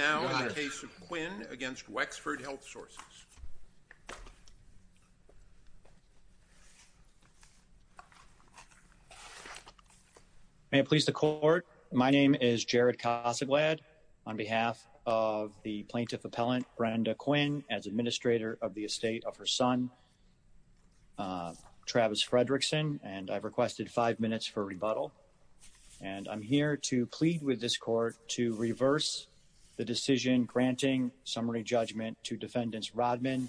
May it please the Court, my name is Jared Cossaglad on behalf of the plaintiff appellant Brenda Quinn as administrator of the estate of her son Travis Fredrickson and I've requested five minutes for rebuttal and I'm here to make a decision granting summary judgment to defendants Rodman,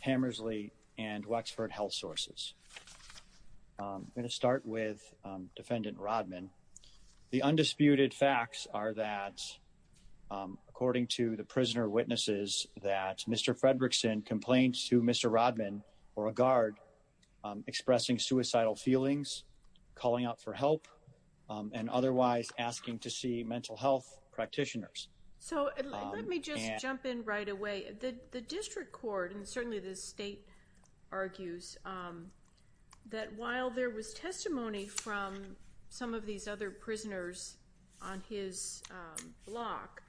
Hammersley and Wexford Health Sources. I'm going to start with defendant Rodman. The undisputed facts are that according to the prisoner witnesses that Mr. Fredrickson complains to Mr. Rodman or a guard expressing suicidal feelings calling out for help and otherwise asking to see mental health practitioners. So let me just jump in right away. The district court and certainly the state argues that while there was testimony from some of these other prisoners on his block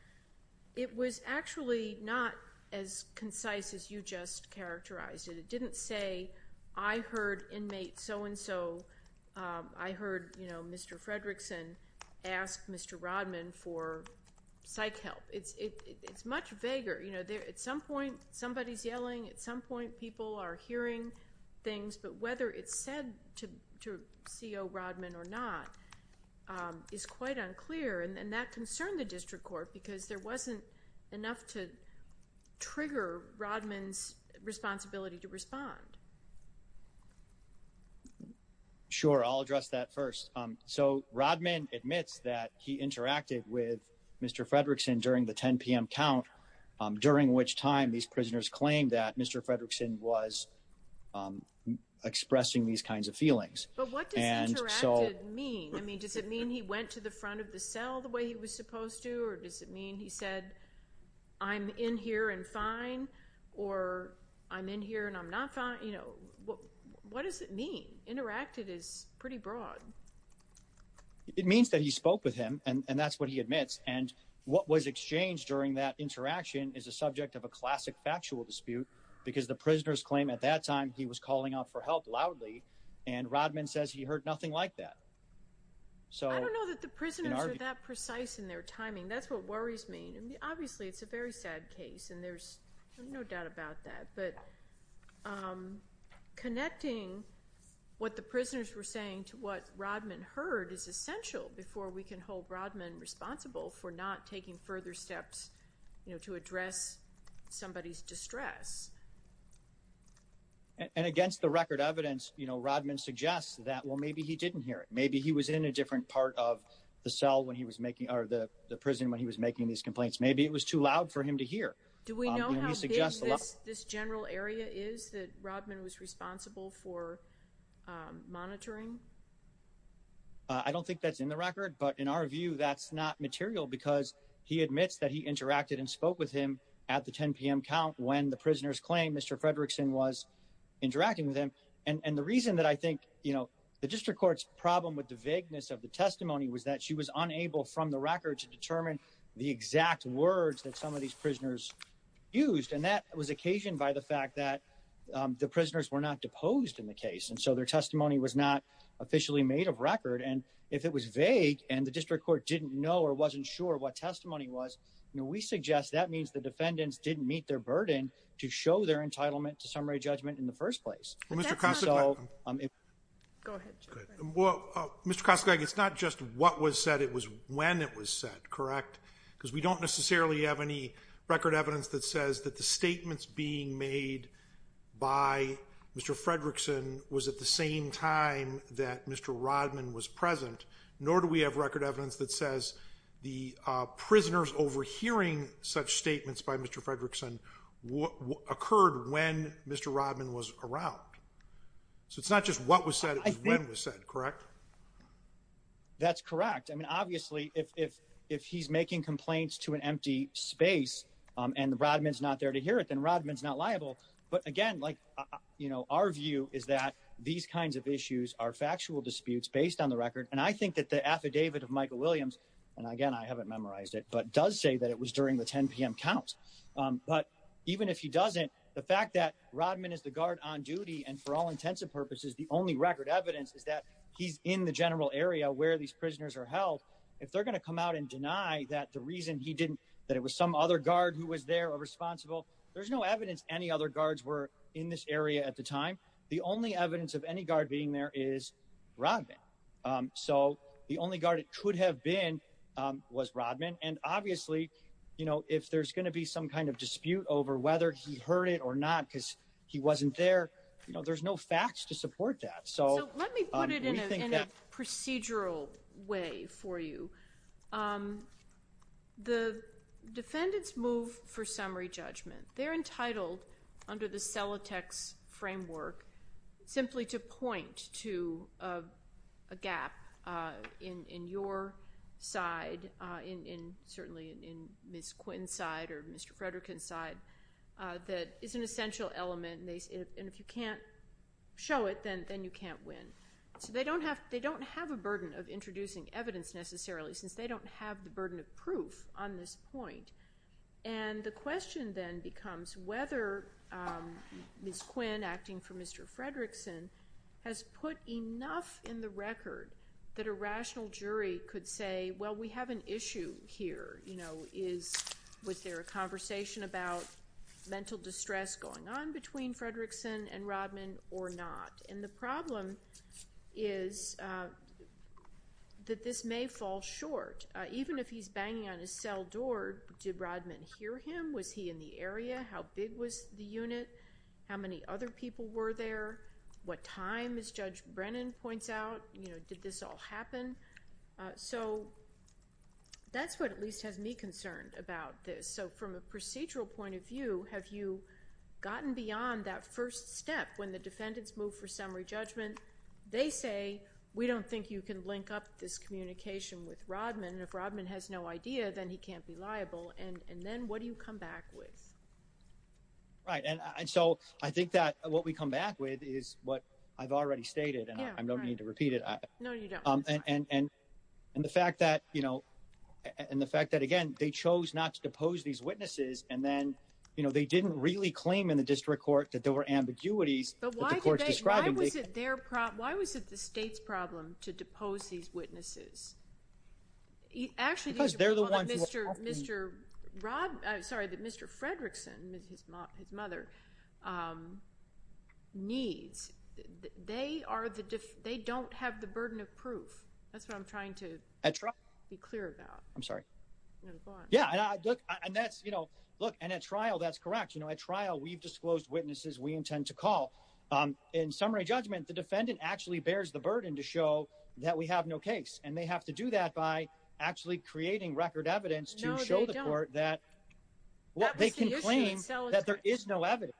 it was actually not as concise as you just characterized it. It didn't say I heard inmates so-and-so I heard you know Mr. Fredrickson ask Mr. Rodman for psych help. It's much vaguer you know there at some point somebody's yelling at some point people are hearing things but whether it's said to CO Rodman or not is quite unclear and that concerned the district court because there wasn't enough to trigger Rodman's responsibility to respond. Sure I'll address that first. So Rodman admits that he interacted with Mr. Fredrickson during the 10 p.m. count during which time these prisoners claimed that Mr. Fredrickson was expressing these kinds of feelings. But what does it mean? I mean does it mean he went to the front of the cell the way he was supposed to or does it mean he said I'm in here and fine or I'm in here and I'm not fine you know what what does it mean? Interacted is pretty broad. It means that he spoke with him and that's what he admits and what was exchanged during that interaction is a subject of a classic factual dispute because the prisoners claim at that time he was calling out for help loudly and Rodman says he heard nothing like that. I don't know that the prisoners are that precise in their timing that's what worries me and obviously it's a very sad case and there's no doubt about that but connecting what the prisoners were saying to what Rodman heard is essential before we can hold Rodman responsible for not taking further steps you know to address somebody's distress. And against the record evidence you know Rodman suggests that well maybe he didn't hear it maybe he was in a different part of the cell when he was making or the prison when he was making these complaints maybe it was too loud for him to hear. Do we know how big this general area is that Rodman was responsible for monitoring? I don't think that's in the record but in our view that's not material because he admits that he interacted and spoke with him at the 10 p.m. count when the prisoners claim Mr. Fredrickson was interacting with him and and the reason that I think you know the District Court's problem with the vagueness of the testimony was that she was unable from the record to determine the exact words that some of these prisoners used and that was occasioned by the fact that the prisoners were not deposed in the case and so their testimony was not officially made of record and if it was vague and the District Court didn't know or wasn't sure what testimony was you know we suggest that means the defendants didn't meet their burden to show their entitlement to summary judgment in the first place. Well Mr. Kosslick it's not just what was said it was when it was said correct because we don't necessarily have any record evidence that says that the statements being made by Mr. Fredrickson was at the same time that Mr. Rodman was present nor do we have record evidence that says the prisoners overhearing such So it's not just what was said it was when it was said correct? That's correct I mean obviously if if if he's making complaints to an empty space and the Rodman's not there to hear it then Rodman's not liable but again like you know our view is that these kinds of issues are factual disputes based on the record and I think that the affidavit of Michael Williams and again I haven't memorized it but does say that it was during the 10 p.m. count but even if he and for all intents and purposes the only record evidence is that he's in the general area where these prisoners are held if they're gonna come out and deny that the reason he didn't that it was some other guard who was there or responsible there's no evidence any other guards were in this area at the time the only evidence of any guard being there is Rodman so the only guard it could have been was Rodman and obviously you know if there's gonna be some kind of dispute over whether he heard it or not because he wasn't there you know there's no facts to support that so let me put it in a procedural way for you the defendants move for summary judgment they're entitled under the sell a text framework simply to point to a gap in in your side in in certainly in Miss Quinn side or mr. Frederick inside that is an essential element and if you can't show it then then you can't win so they don't have they don't have a burden of introducing evidence necessarily since they don't have the burden of proof on this point and the question then becomes whether miss Quinn acting for mr. Fredrickson has put enough in the record that a rational jury could say well we have an issue here you know is with their conversation about mental distress going on between Fredrickson and Rodman or not and the problem is that this may fall short even if he's banging on his cell door did Rodman hear him was he in the area how big was the unit how many other people were there what time is judge Brennan points out you know did this all happen so that's what at least has me concerned about this so from a procedural point of view have you gotten beyond that first step when the defendants move for summary judgment they say we don't think you can link up this communication with Rodman if Rodman has no idea then he can't be liable and and then what do you come back with right and I so I think that what we come back with is what I've already stated and I don't need to repeat it I know you don't um and and and the fact that you know and the fact that again they chose not to depose these witnesses and then you know they didn't really claim in the district court that there were ambiguities but why was it their prop why was it the state's problem to depose these witnesses he actually does there mr. mr. Rob I'm sorry that mr. Fredrickson his mom his mother needs they are the diff they don't have the burden of proof that's what I'm trying to attract be clear about I'm sorry yeah and that's you know look and at trial that's correct you know at trial we've disclosed witnesses we intend to call in summary judgment the defendant actually bears the burden to show that we have no and they have to do that by actually creating record evidence to show the court that what they can claim that there is no evidence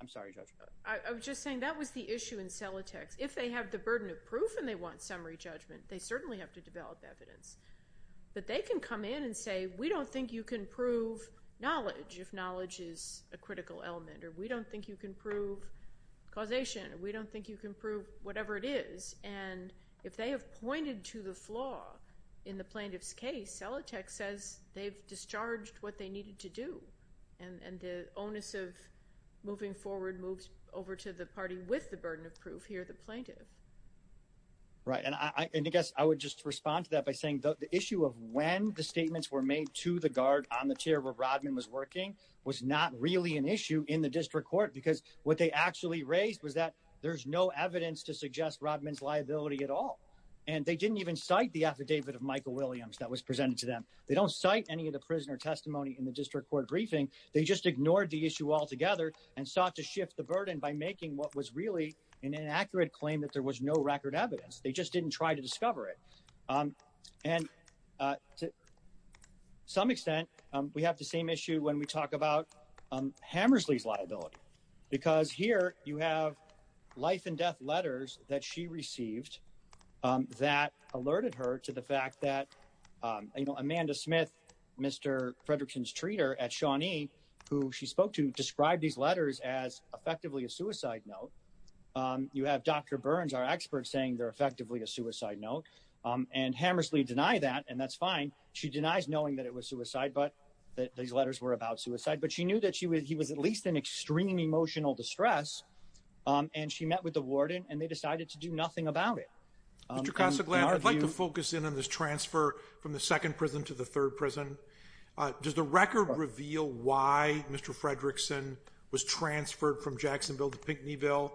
I'm sorry judge I was just saying that was the issue in sell a text if they have the burden of proof and they want summary judgment they certainly have to develop evidence but they can come in and say we don't think you can prove knowledge if knowledge is a critical element or we don't think you can prove causation we don't think you can prove whatever it is and if they have pointed to the flaw in the plaintiff's case sell a check says they've discharged what they needed to do and and the onus of moving forward moves over to the party with the burden of proof here the plaintiff right and I guess I would just respond to that by saying the issue of when the statements were made to the guard on the chair where Rodman was working was not really an issue in the district court because what they actually raised was that there's no evidence to suggest Rodman's liability at all and they didn't even cite the affidavit of Michael Williams that was presented to them they don't cite any of the prisoner testimony in the district court briefing they just ignored the issue altogether and sought to shift the burden by making what was really an inaccurate claim that there was no record evidence they just didn't try to discover it and to some extent we have the same issue when we talk about Hammersley's liability because here you have life-and-death letters that she received that alerted her to the fact that you know Amanda Smith mr. Fredrickson's treater at Shawnee who she spoke to described these letters as effectively a suicide note you have dr. Burns our experts saying they're effectively a suicide note and Hammersley deny that and that's fine she denies knowing that it was suicide but that these letters were about suicide but she knew that she was he was at least an extreme emotional distress and she met with the warden and they decided to do nothing about it mr. Casa glad I'd like to focus in on this transfer from the second prison to the third prison does the record reveal why mr. Fredrickson was transferred from Jacksonville to Pinckneyville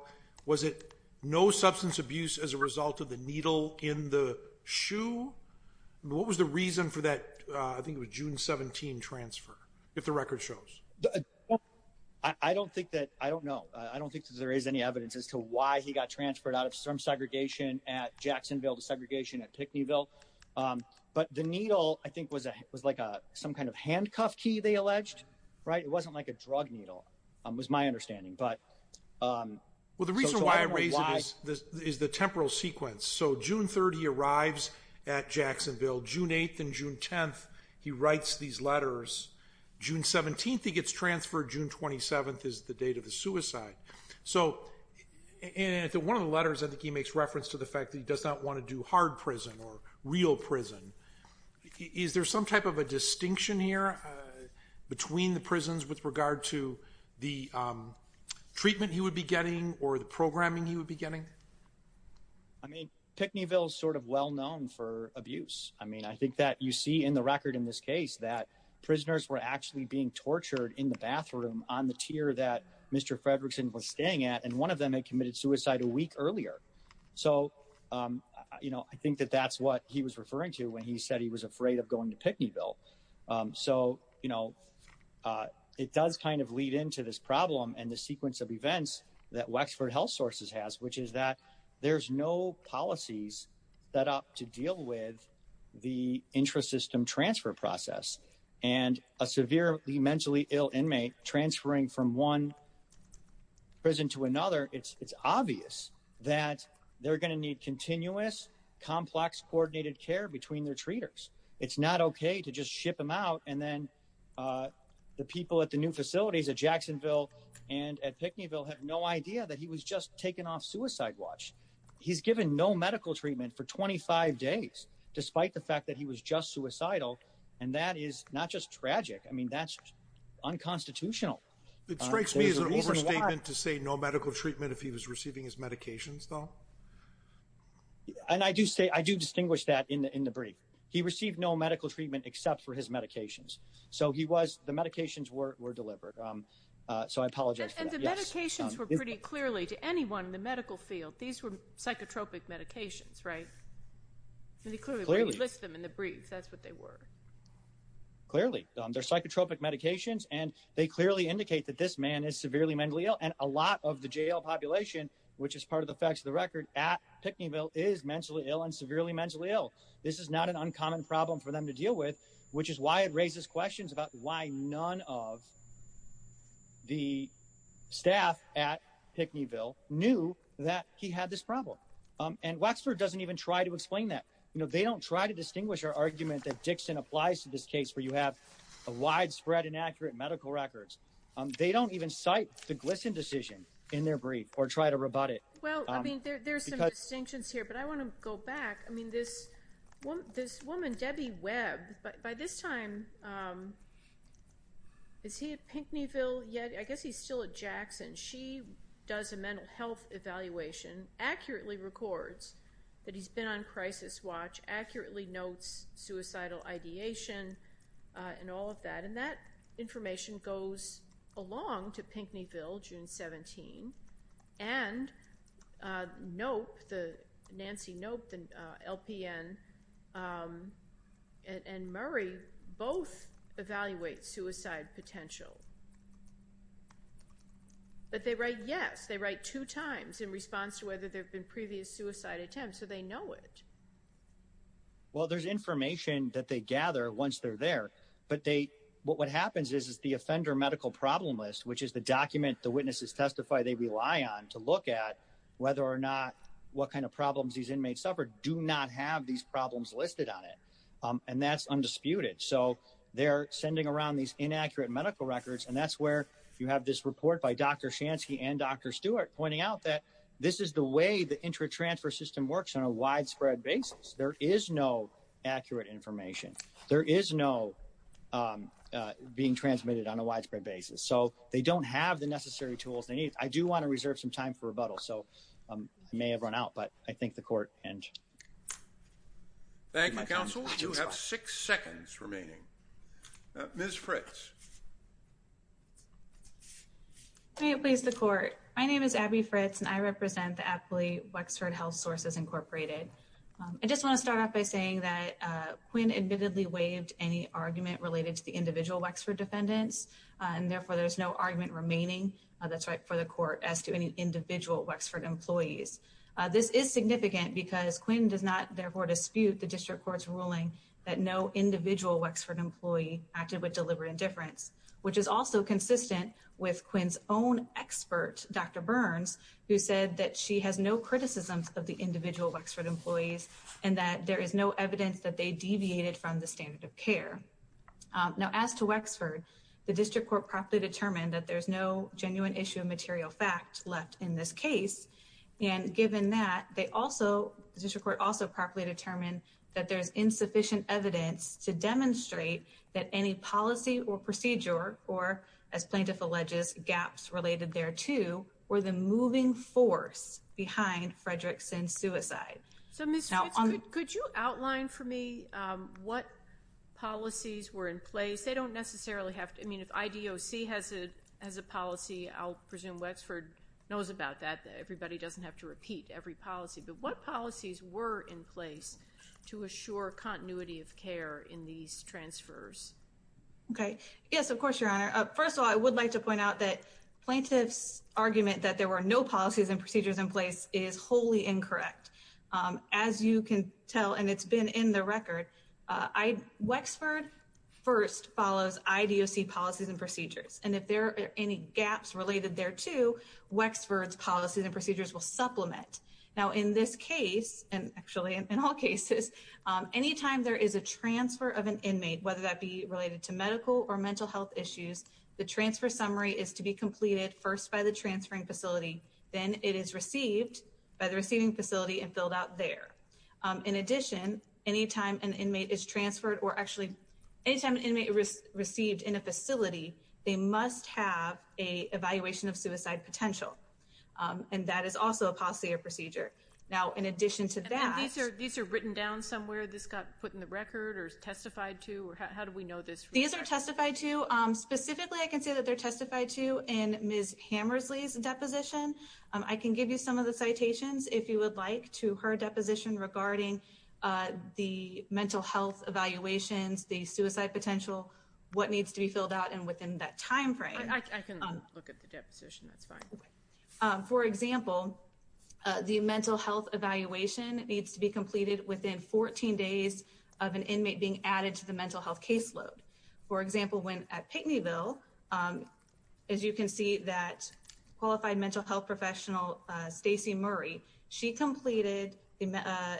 was it no substance abuse as a result of the needle in the shoe what was the reason for that I think it was June 17 transfer if the record shows I don't think that I don't know I don't think there is any evidence as to why he got transferred out of some segregation at Jacksonville to segregation at Pinckneyville but the needle I think was a was like a some kind of handcuff key they alleged right it wasn't like a drug needle was my understanding but well the reason why I raise this is the temporal sequence so June 30 arrives at June 10th he writes these letters June 17th he gets transferred June 27th is the date of the suicide so and at the one of the letters I think he makes reference to the fact that he does not want to do hard prison or real prison is there some type of a distinction here between the prisons with regard to the treatment he would be getting or the programming he would be getting I mean I think that's what he was referring to when he said he was afraid of going to Pinckneyville so you know it does kind of lead into this problem and the sequence of events that Wexford Health Sources has which is that there's no policies set up to deal with the interests of prisoners and how they're and a severely mentally ill inmate transferring from one prison to another it's it's obvious that they're gonna need continuous complex coordinated care between their treaters it's not okay to just ship him out and then the people at the new facilities at Jacksonville and at Pinckneyville have no idea that he was just taken off suicide watch he's given no medical treatment for 25 days despite the fact that he was just suicidal and that is not just tragic I mean that's unconstitutional it strikes me as an overstatement to say no medical treatment if he was receiving his medications though and I do say I do distinguish that in the in the brief he received no medical treatment except for his medications so he was the medications were were delivered so I apologize and the medications were pretty clearly to anyone in the medical field these were psychotropic medications right that's what they were clearly their psychotropic medications and they clearly indicate that this man is severely mentally ill and a lot of the jail population which is part of the facts of the record at Pinckneyville is mentally ill and severely mentally ill this is not an uncommon problem for them to deal with which is why it raises questions about why none of the staff at Pinckneyville knew that he had this problem and Waxford doesn't even try to explain that you know they don't try to distinguish our argument that Dixon applies to this case where you have a widespread inaccurate medical records they don't even cite the glisten decision in their brief or try to rebut it well I mean there's some distinctions here but I want to go back I mean this one this woman Debbie Webb but by this time is he at Pinckneyville yet I guess he's still at Jackson she does a mental health evaluation accurately records that he's been on crisis watch accurately notes suicidal ideation and all of that and that information goes along to Nancy nope and LPN and Murray both evaluate suicide potential but they write yes they write two times in response to whether there have been previous suicide attempts so they know it well there's information that they gather once they're there but they what what happens is is the offender medical problem list which is the document the witnesses testify they rely on to look at whether or not what kind of problems these inmates suffered do not have these problems listed on it and that's undisputed so they're sending around these inaccurate medical records and that's where you have this report by dr. Shansky and dr. Stewart pointing out that this is the way the intra transfer system works on a widespread basis there is no accurate information there is no being transmitted on a widespread basis so they don't have the necessary tools they need I do want to reserve some time for rebuttal so I may have run out but I think the court and six seconds remaining miss Fritz please the court my name is Abby Fritz and I represent the athlete Wexford Health Sources Incorporated I just want to start off by saying that Quinn admittedly waived any argument related to the individual Wexford defendants and therefore there's no argument remaining that's right for the court as to any individual Wexford employees this is significant because Quinn does not therefore dispute the district courts ruling that no individual Wexford employee acted with deliberate indifference which is also consistent with Quinn's own expert dr. Burns who said that she has no criticisms of the individual Wexford employees and that there is no evidence that they deviated from the standard of care now as to Wexford the district court properly determined that there's no genuine issue of material fact left in this case and given that they also the district court also properly determined that there's insufficient evidence to demonstrate that any policy or procedure or as plaintiff alleges gaps related thereto or the moving force behind Fredrickson's suicide. So Ms. Fritz could you outline for me what policies were in place they don't necessarily have to I mean if IDOC has it as a policy I'll presume Wexford knows about that everybody doesn't have to repeat every policy but what policies were in place to assure continuity of care in these transfers? Okay yes of course your honor first of all I would like to point out that plaintiffs argument that there were no policies and procedures in place is wholly incorrect. As you can tell and it's been in the record I Wexford first follows IDOC policies and procedures and if there are any gaps related there to Wexford's policies and procedures will supplement. Now in this case and actually in all cases anytime there is a transfer of an inmate whether that be related to medical or mental health issues the transfer summary is to be completed first by the transferring facility then it is received by the receiving facility and filled out there. In addition anytime an inmate is transferred or actually anytime an inmate was received in a facility they must have a evaluation of suicide potential and that is also a policy or procedure. Now in addition to that these are written down somewhere this got put in the record or testified to or how do we know this? These are testified to specifically I can give you some of the citations if you would like to her deposition regarding the mental health evaluations the suicide potential what needs to be filled out and within that time frame. For example the mental health evaluation needs to be completed within 14 days of an inmate being added to the mental health caseload. For example when at Pickneyville as you can see that qualified mental health professional Stacy Murray she completed the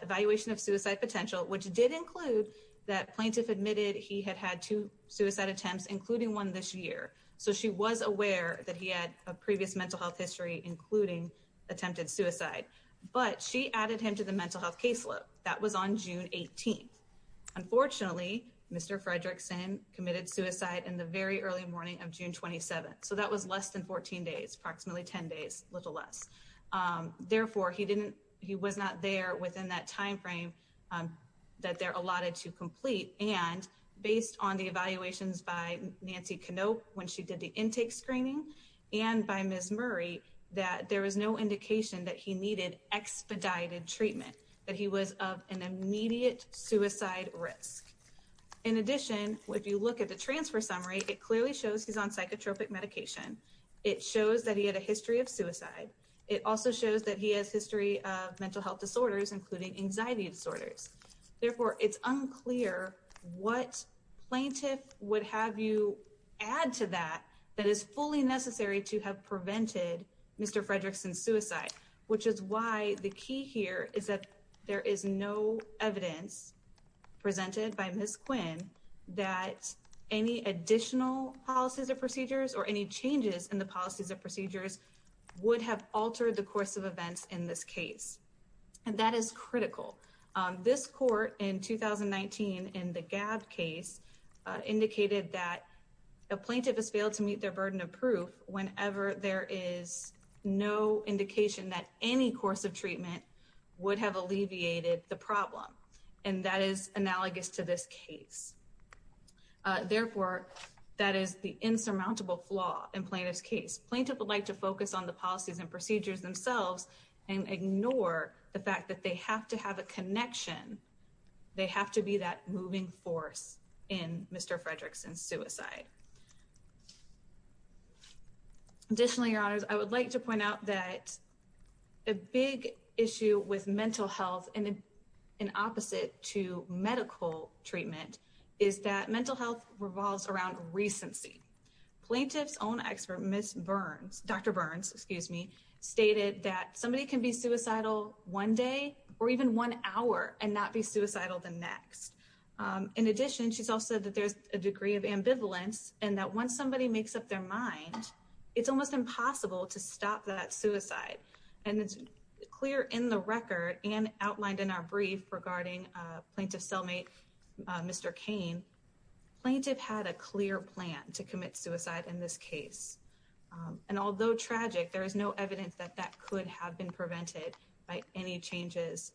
evaluation of suicide potential which did include that plaintiff admitted he had had two suicide attempts including one this year so she was aware that he had a previous mental health history including attempted suicide but she added him to the mental health caseload that was on June 18th. Unfortunately Mr. Fredrickson committed suicide in the very early morning of June 27th so that was less than 14 days approximately 10 days little less therefore he didn't he was not there within that time frame that they're allotted to complete and based on the evaluations by Nancy Canope when she did the intake screening and by Ms. Murray that there was no indication that he needed expedited treatment that he was of an immediate suicide risk. In addition if you look at the transfer summary it clearly shows he's on psychotropic medication it shows that he had a history of suicide it also shows that he has history of mental health disorders including anxiety disorders therefore it's unclear what plaintiff would have you add to that that is fully necessary to have prevented Mr. Fredrickson's suicide which is why the key here is that there is no evidence presented by Ms. Quinn that any additional policies or procedures or any changes in the policies or procedures would have altered the course of events in this case and that is critical. This court in 2019 in the GAB case indicated that a plaintiff has failed to meet their burden of proof whenever there is no indication that any course of treatment would have alleviated the problem and that is analogous to this case. Therefore that is the insurmountable flaw in plaintiff's case. Plaintiff would like to focus on the policies and procedures themselves and ignore the fact that they have to have a connection they have to be that moving force in Mr. Fredrickson's Additionally, your honors, I would like to point out that a big issue with mental health and an opposite to medical treatment is that mental health revolves around recency. Plaintiff's own expert Ms. Burns, Dr. Burns, excuse me, stated that somebody can be suicidal one day or even one hour and not be suicidal the next. In addition, she's also that there's a degree of ambivalence and that once somebody makes up their mind it's almost impossible to stop that suicide and it's clear in the record and outlined in our brief regarding plaintiff cellmate Mr. Kane, plaintiff had a clear plan to commit suicide in this case and although tragic there is no evidence that that could have been prevented by any changes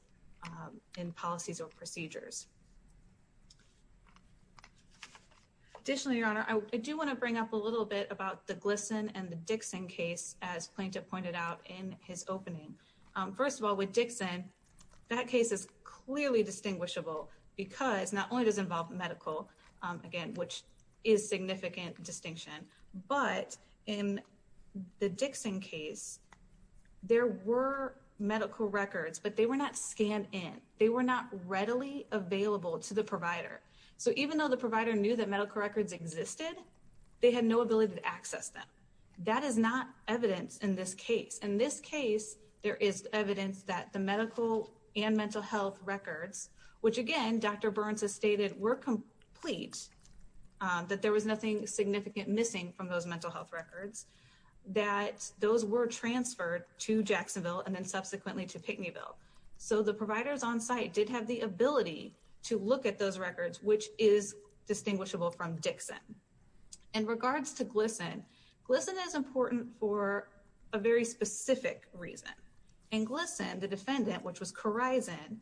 in policies or procedures. Additionally, your honor, I do want to bring up a little bit about the glisten and the Dixon case as plaintiff pointed out in his opening. First of all with Dixon that case is clearly distinguishable because not only does involve medical again which is significant distinction but in the Dixon case there were medical records but they were not scanned in. They were not readily available to the provider so even though the provider knew that medical records existed they had no ability to access them. That is not evidence in this case. In this case there is evidence that the medical and mental health records which again Dr. Burns has stated were complete that there was nothing significant missing from those mental health records that those were transferred to Jacksonville and then subsequently to Pickneyville. So the providers on-site did have the ability to look at those records which is distinguishable from Dixon. In regards to glisten, glisten is important for a very specific reason and glisten the defendant which was Corizon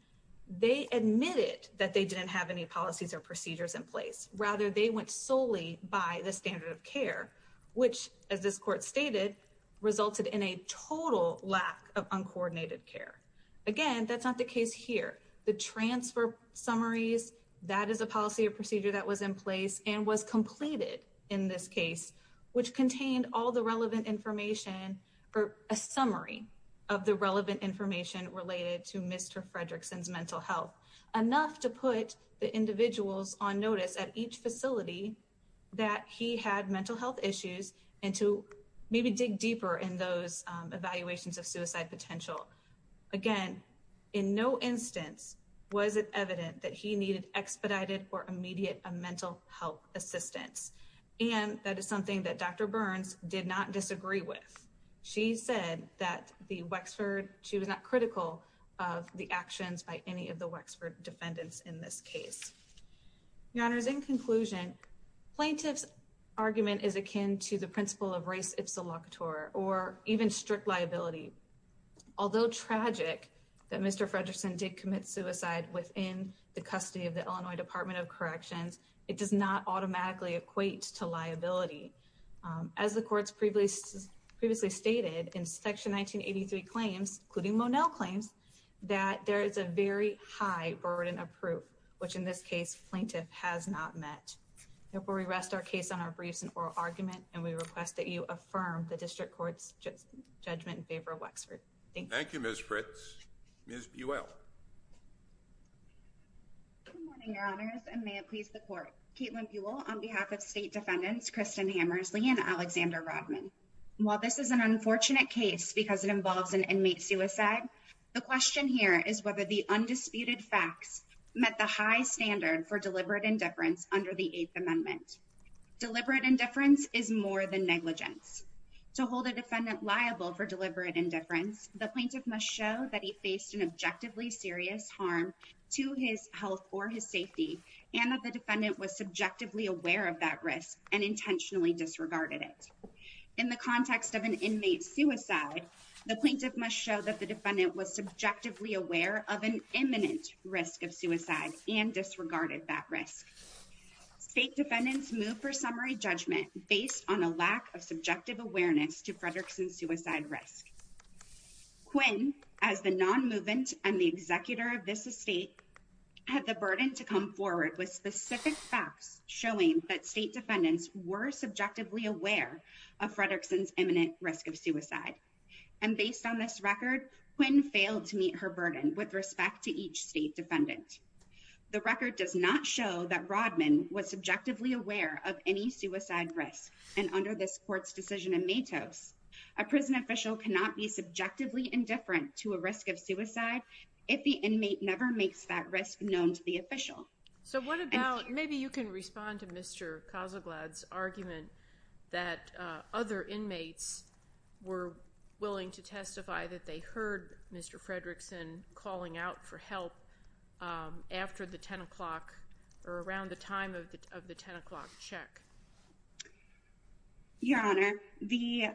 they admitted that they didn't have any policies or procedures in place rather they went solely by the standard of care which as this court stated resulted in a total lack of uncoordinated care. Again that's not the case here. The transfer summaries that is a policy or procedure that was in place and was completed in this case which contained all the relevant information or a summary of the relevant information related to Mr. Fredrickson's mental health enough to put the that he had mental health issues and to maybe dig deeper in those evaluations of suicide potential. Again in no instance was it evident that he needed expedited or immediate a mental health assistance and that is something that Dr. Burns did not disagree with. She said that the Wexford she was not critical of the actions by any of the Wexford defendants in this case. Your honors in conclusion plaintiff's argument is akin to the principle of race if solicitor or even strict liability. Although tragic that Mr. Fredrickson did commit suicide within the custody of the Illinois Department of Corrections it does not automatically equate to liability. As the courts previously stated in section 1983 claims including Monel claims that there is a very high burden of proof which in this case plaintiff has not met. Therefore we rest our case on our briefs and oral argument and we request that you affirm the district courts judgment in favor of Wexford. Thank you. Thank you Ms. Fritz. Ms. Buell. Good morning your honors and may it please the court. Caitlin Buell on behalf of state defendants Kristen Hammersley and Alexander Rodman. While this is an unfortunate case because it involves an inmate suicide the question here is whether the undisputed facts met the high standard for deliberate indifference under the 8th amendment. Deliberate indifference is more than negligence. To hold a defendant liable for deliberate indifference the plaintiff must show that he faced an objectively serious harm to his health or his safety and that the defendant was subjectively aware of that risk and intentionally disregarded it. In the context of an inmate suicide the plaintiff must show that the defendant was subjectively aware of an imminent risk of suicide and disregarded that risk. State defendants moved for summary judgment based on a lack of subjective awareness to Fredrickson's suicide risk. Quinn as the non-movement and the executor of this estate had the burden to come forward with specific facts showing that state defendants were subjectively aware of Fredrickson's record Quinn failed to meet her burden with respect to each state defendant. The record does not show that Rodman was subjectively aware of any suicide risk and under this court's decision in Matos a prison official cannot be subjectively indifferent to a risk of suicide if the inmate never makes that risk known to the official. So what about maybe you can respond to Mr. Kozleglad's argument that other inmates were willing to testify that they heard Mr. Fredrickson calling out for help after the 10 o'clock or around the time of the 10 o'clock check? Your Honor, the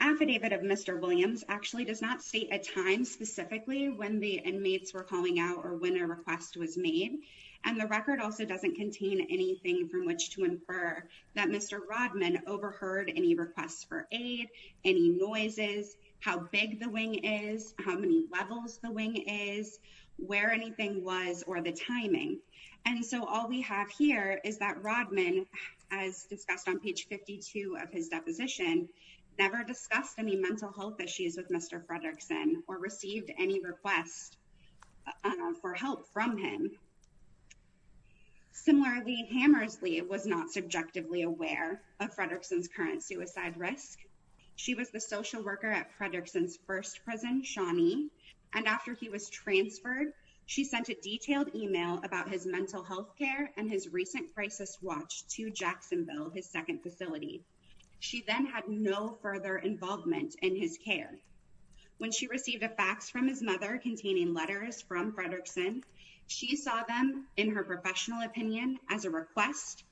affidavit of Mr. Williams actually does not state a time specifically when the inmates were calling out or when a request was made and the record also doesn't contain anything from which to infer that Mr. Rodman overheard any requests for aid, any noises, how big the wing is, how many levels the wing is, where anything was or the timing and so all we have here is that Rodman as discussed on page 52 of his deposition never discussed any mental health issues with Mr. Fredrickson or received any request for help from him. Similarly, Hammersley was not subjectively aware of Fredrickson's current suicide risk. She was the social worker at Fredrickson's first prison, Shawnee, and after he was transferred she sent a detailed email about his mental health care and his recent crisis watch to Jacksonville, his second facility. She then had no further involvement in his care. When she received a letter containing letters from Fredrickson, she saw them in her professional opinion as a request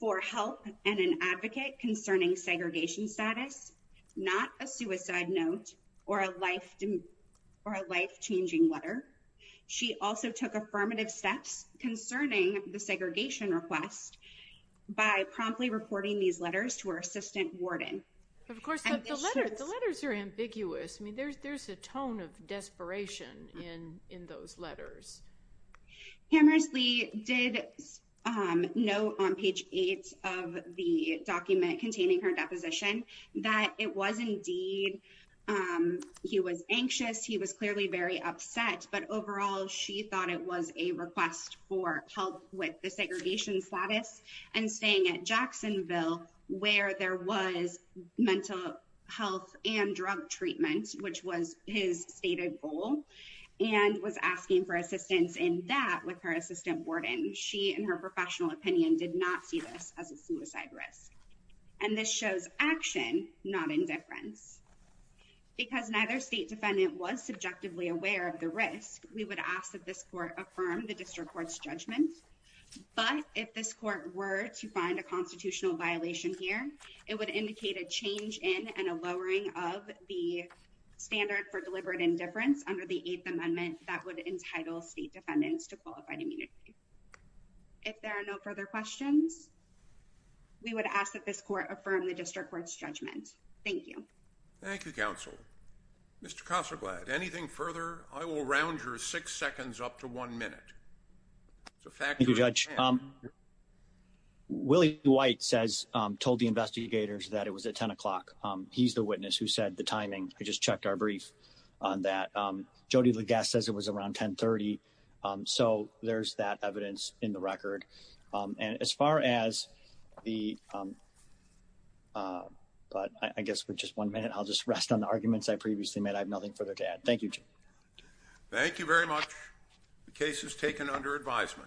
for help and an advocate concerning segregation status, not a suicide note or a life-changing letter. She also took affirmative steps concerning the segregation request by promptly reporting these letters to her assistant warden. Of course the letters are ambiguous. I mean there's there's a tone of desperation in in those letters. Hammersley did note on page 8 of the document containing her deposition that it was indeed he was anxious, he was clearly very upset, but overall she thought it was a request for help with the segregation status and staying at mental health and drug treatment, which was his stated goal, and was asking for assistance in that with her assistant warden. She, in her professional opinion, did not see this as a suicide risk. And this shows action, not indifference. Because neither state defendant was subjectively aware of the risk, we would ask that this court affirm the district court's judgment. But if this court were to find a constitutional violation here, it would indicate a change in and a lowering of the standard for deliberate indifference under the Eighth Amendment that would entitle state defendants to qualified immunity. If there are no further questions, we would ask that this court affirm the district court's judgment. Thank you. Thank you, counsel. Mr. Kosselblatt, anything further? I will Willie White says, told the investigators that it was at 10 o'clock. He's the witness who said the timing. I just checked our brief on that. Jody Legass says it was around 10 30. So there's that evidence in the record. And as far as the, um uh, but I guess we're just one minute. I'll just rest on the arguments I previously made. I have nothing further to add. Thank you. Thank you very much. The case is taken under advisement.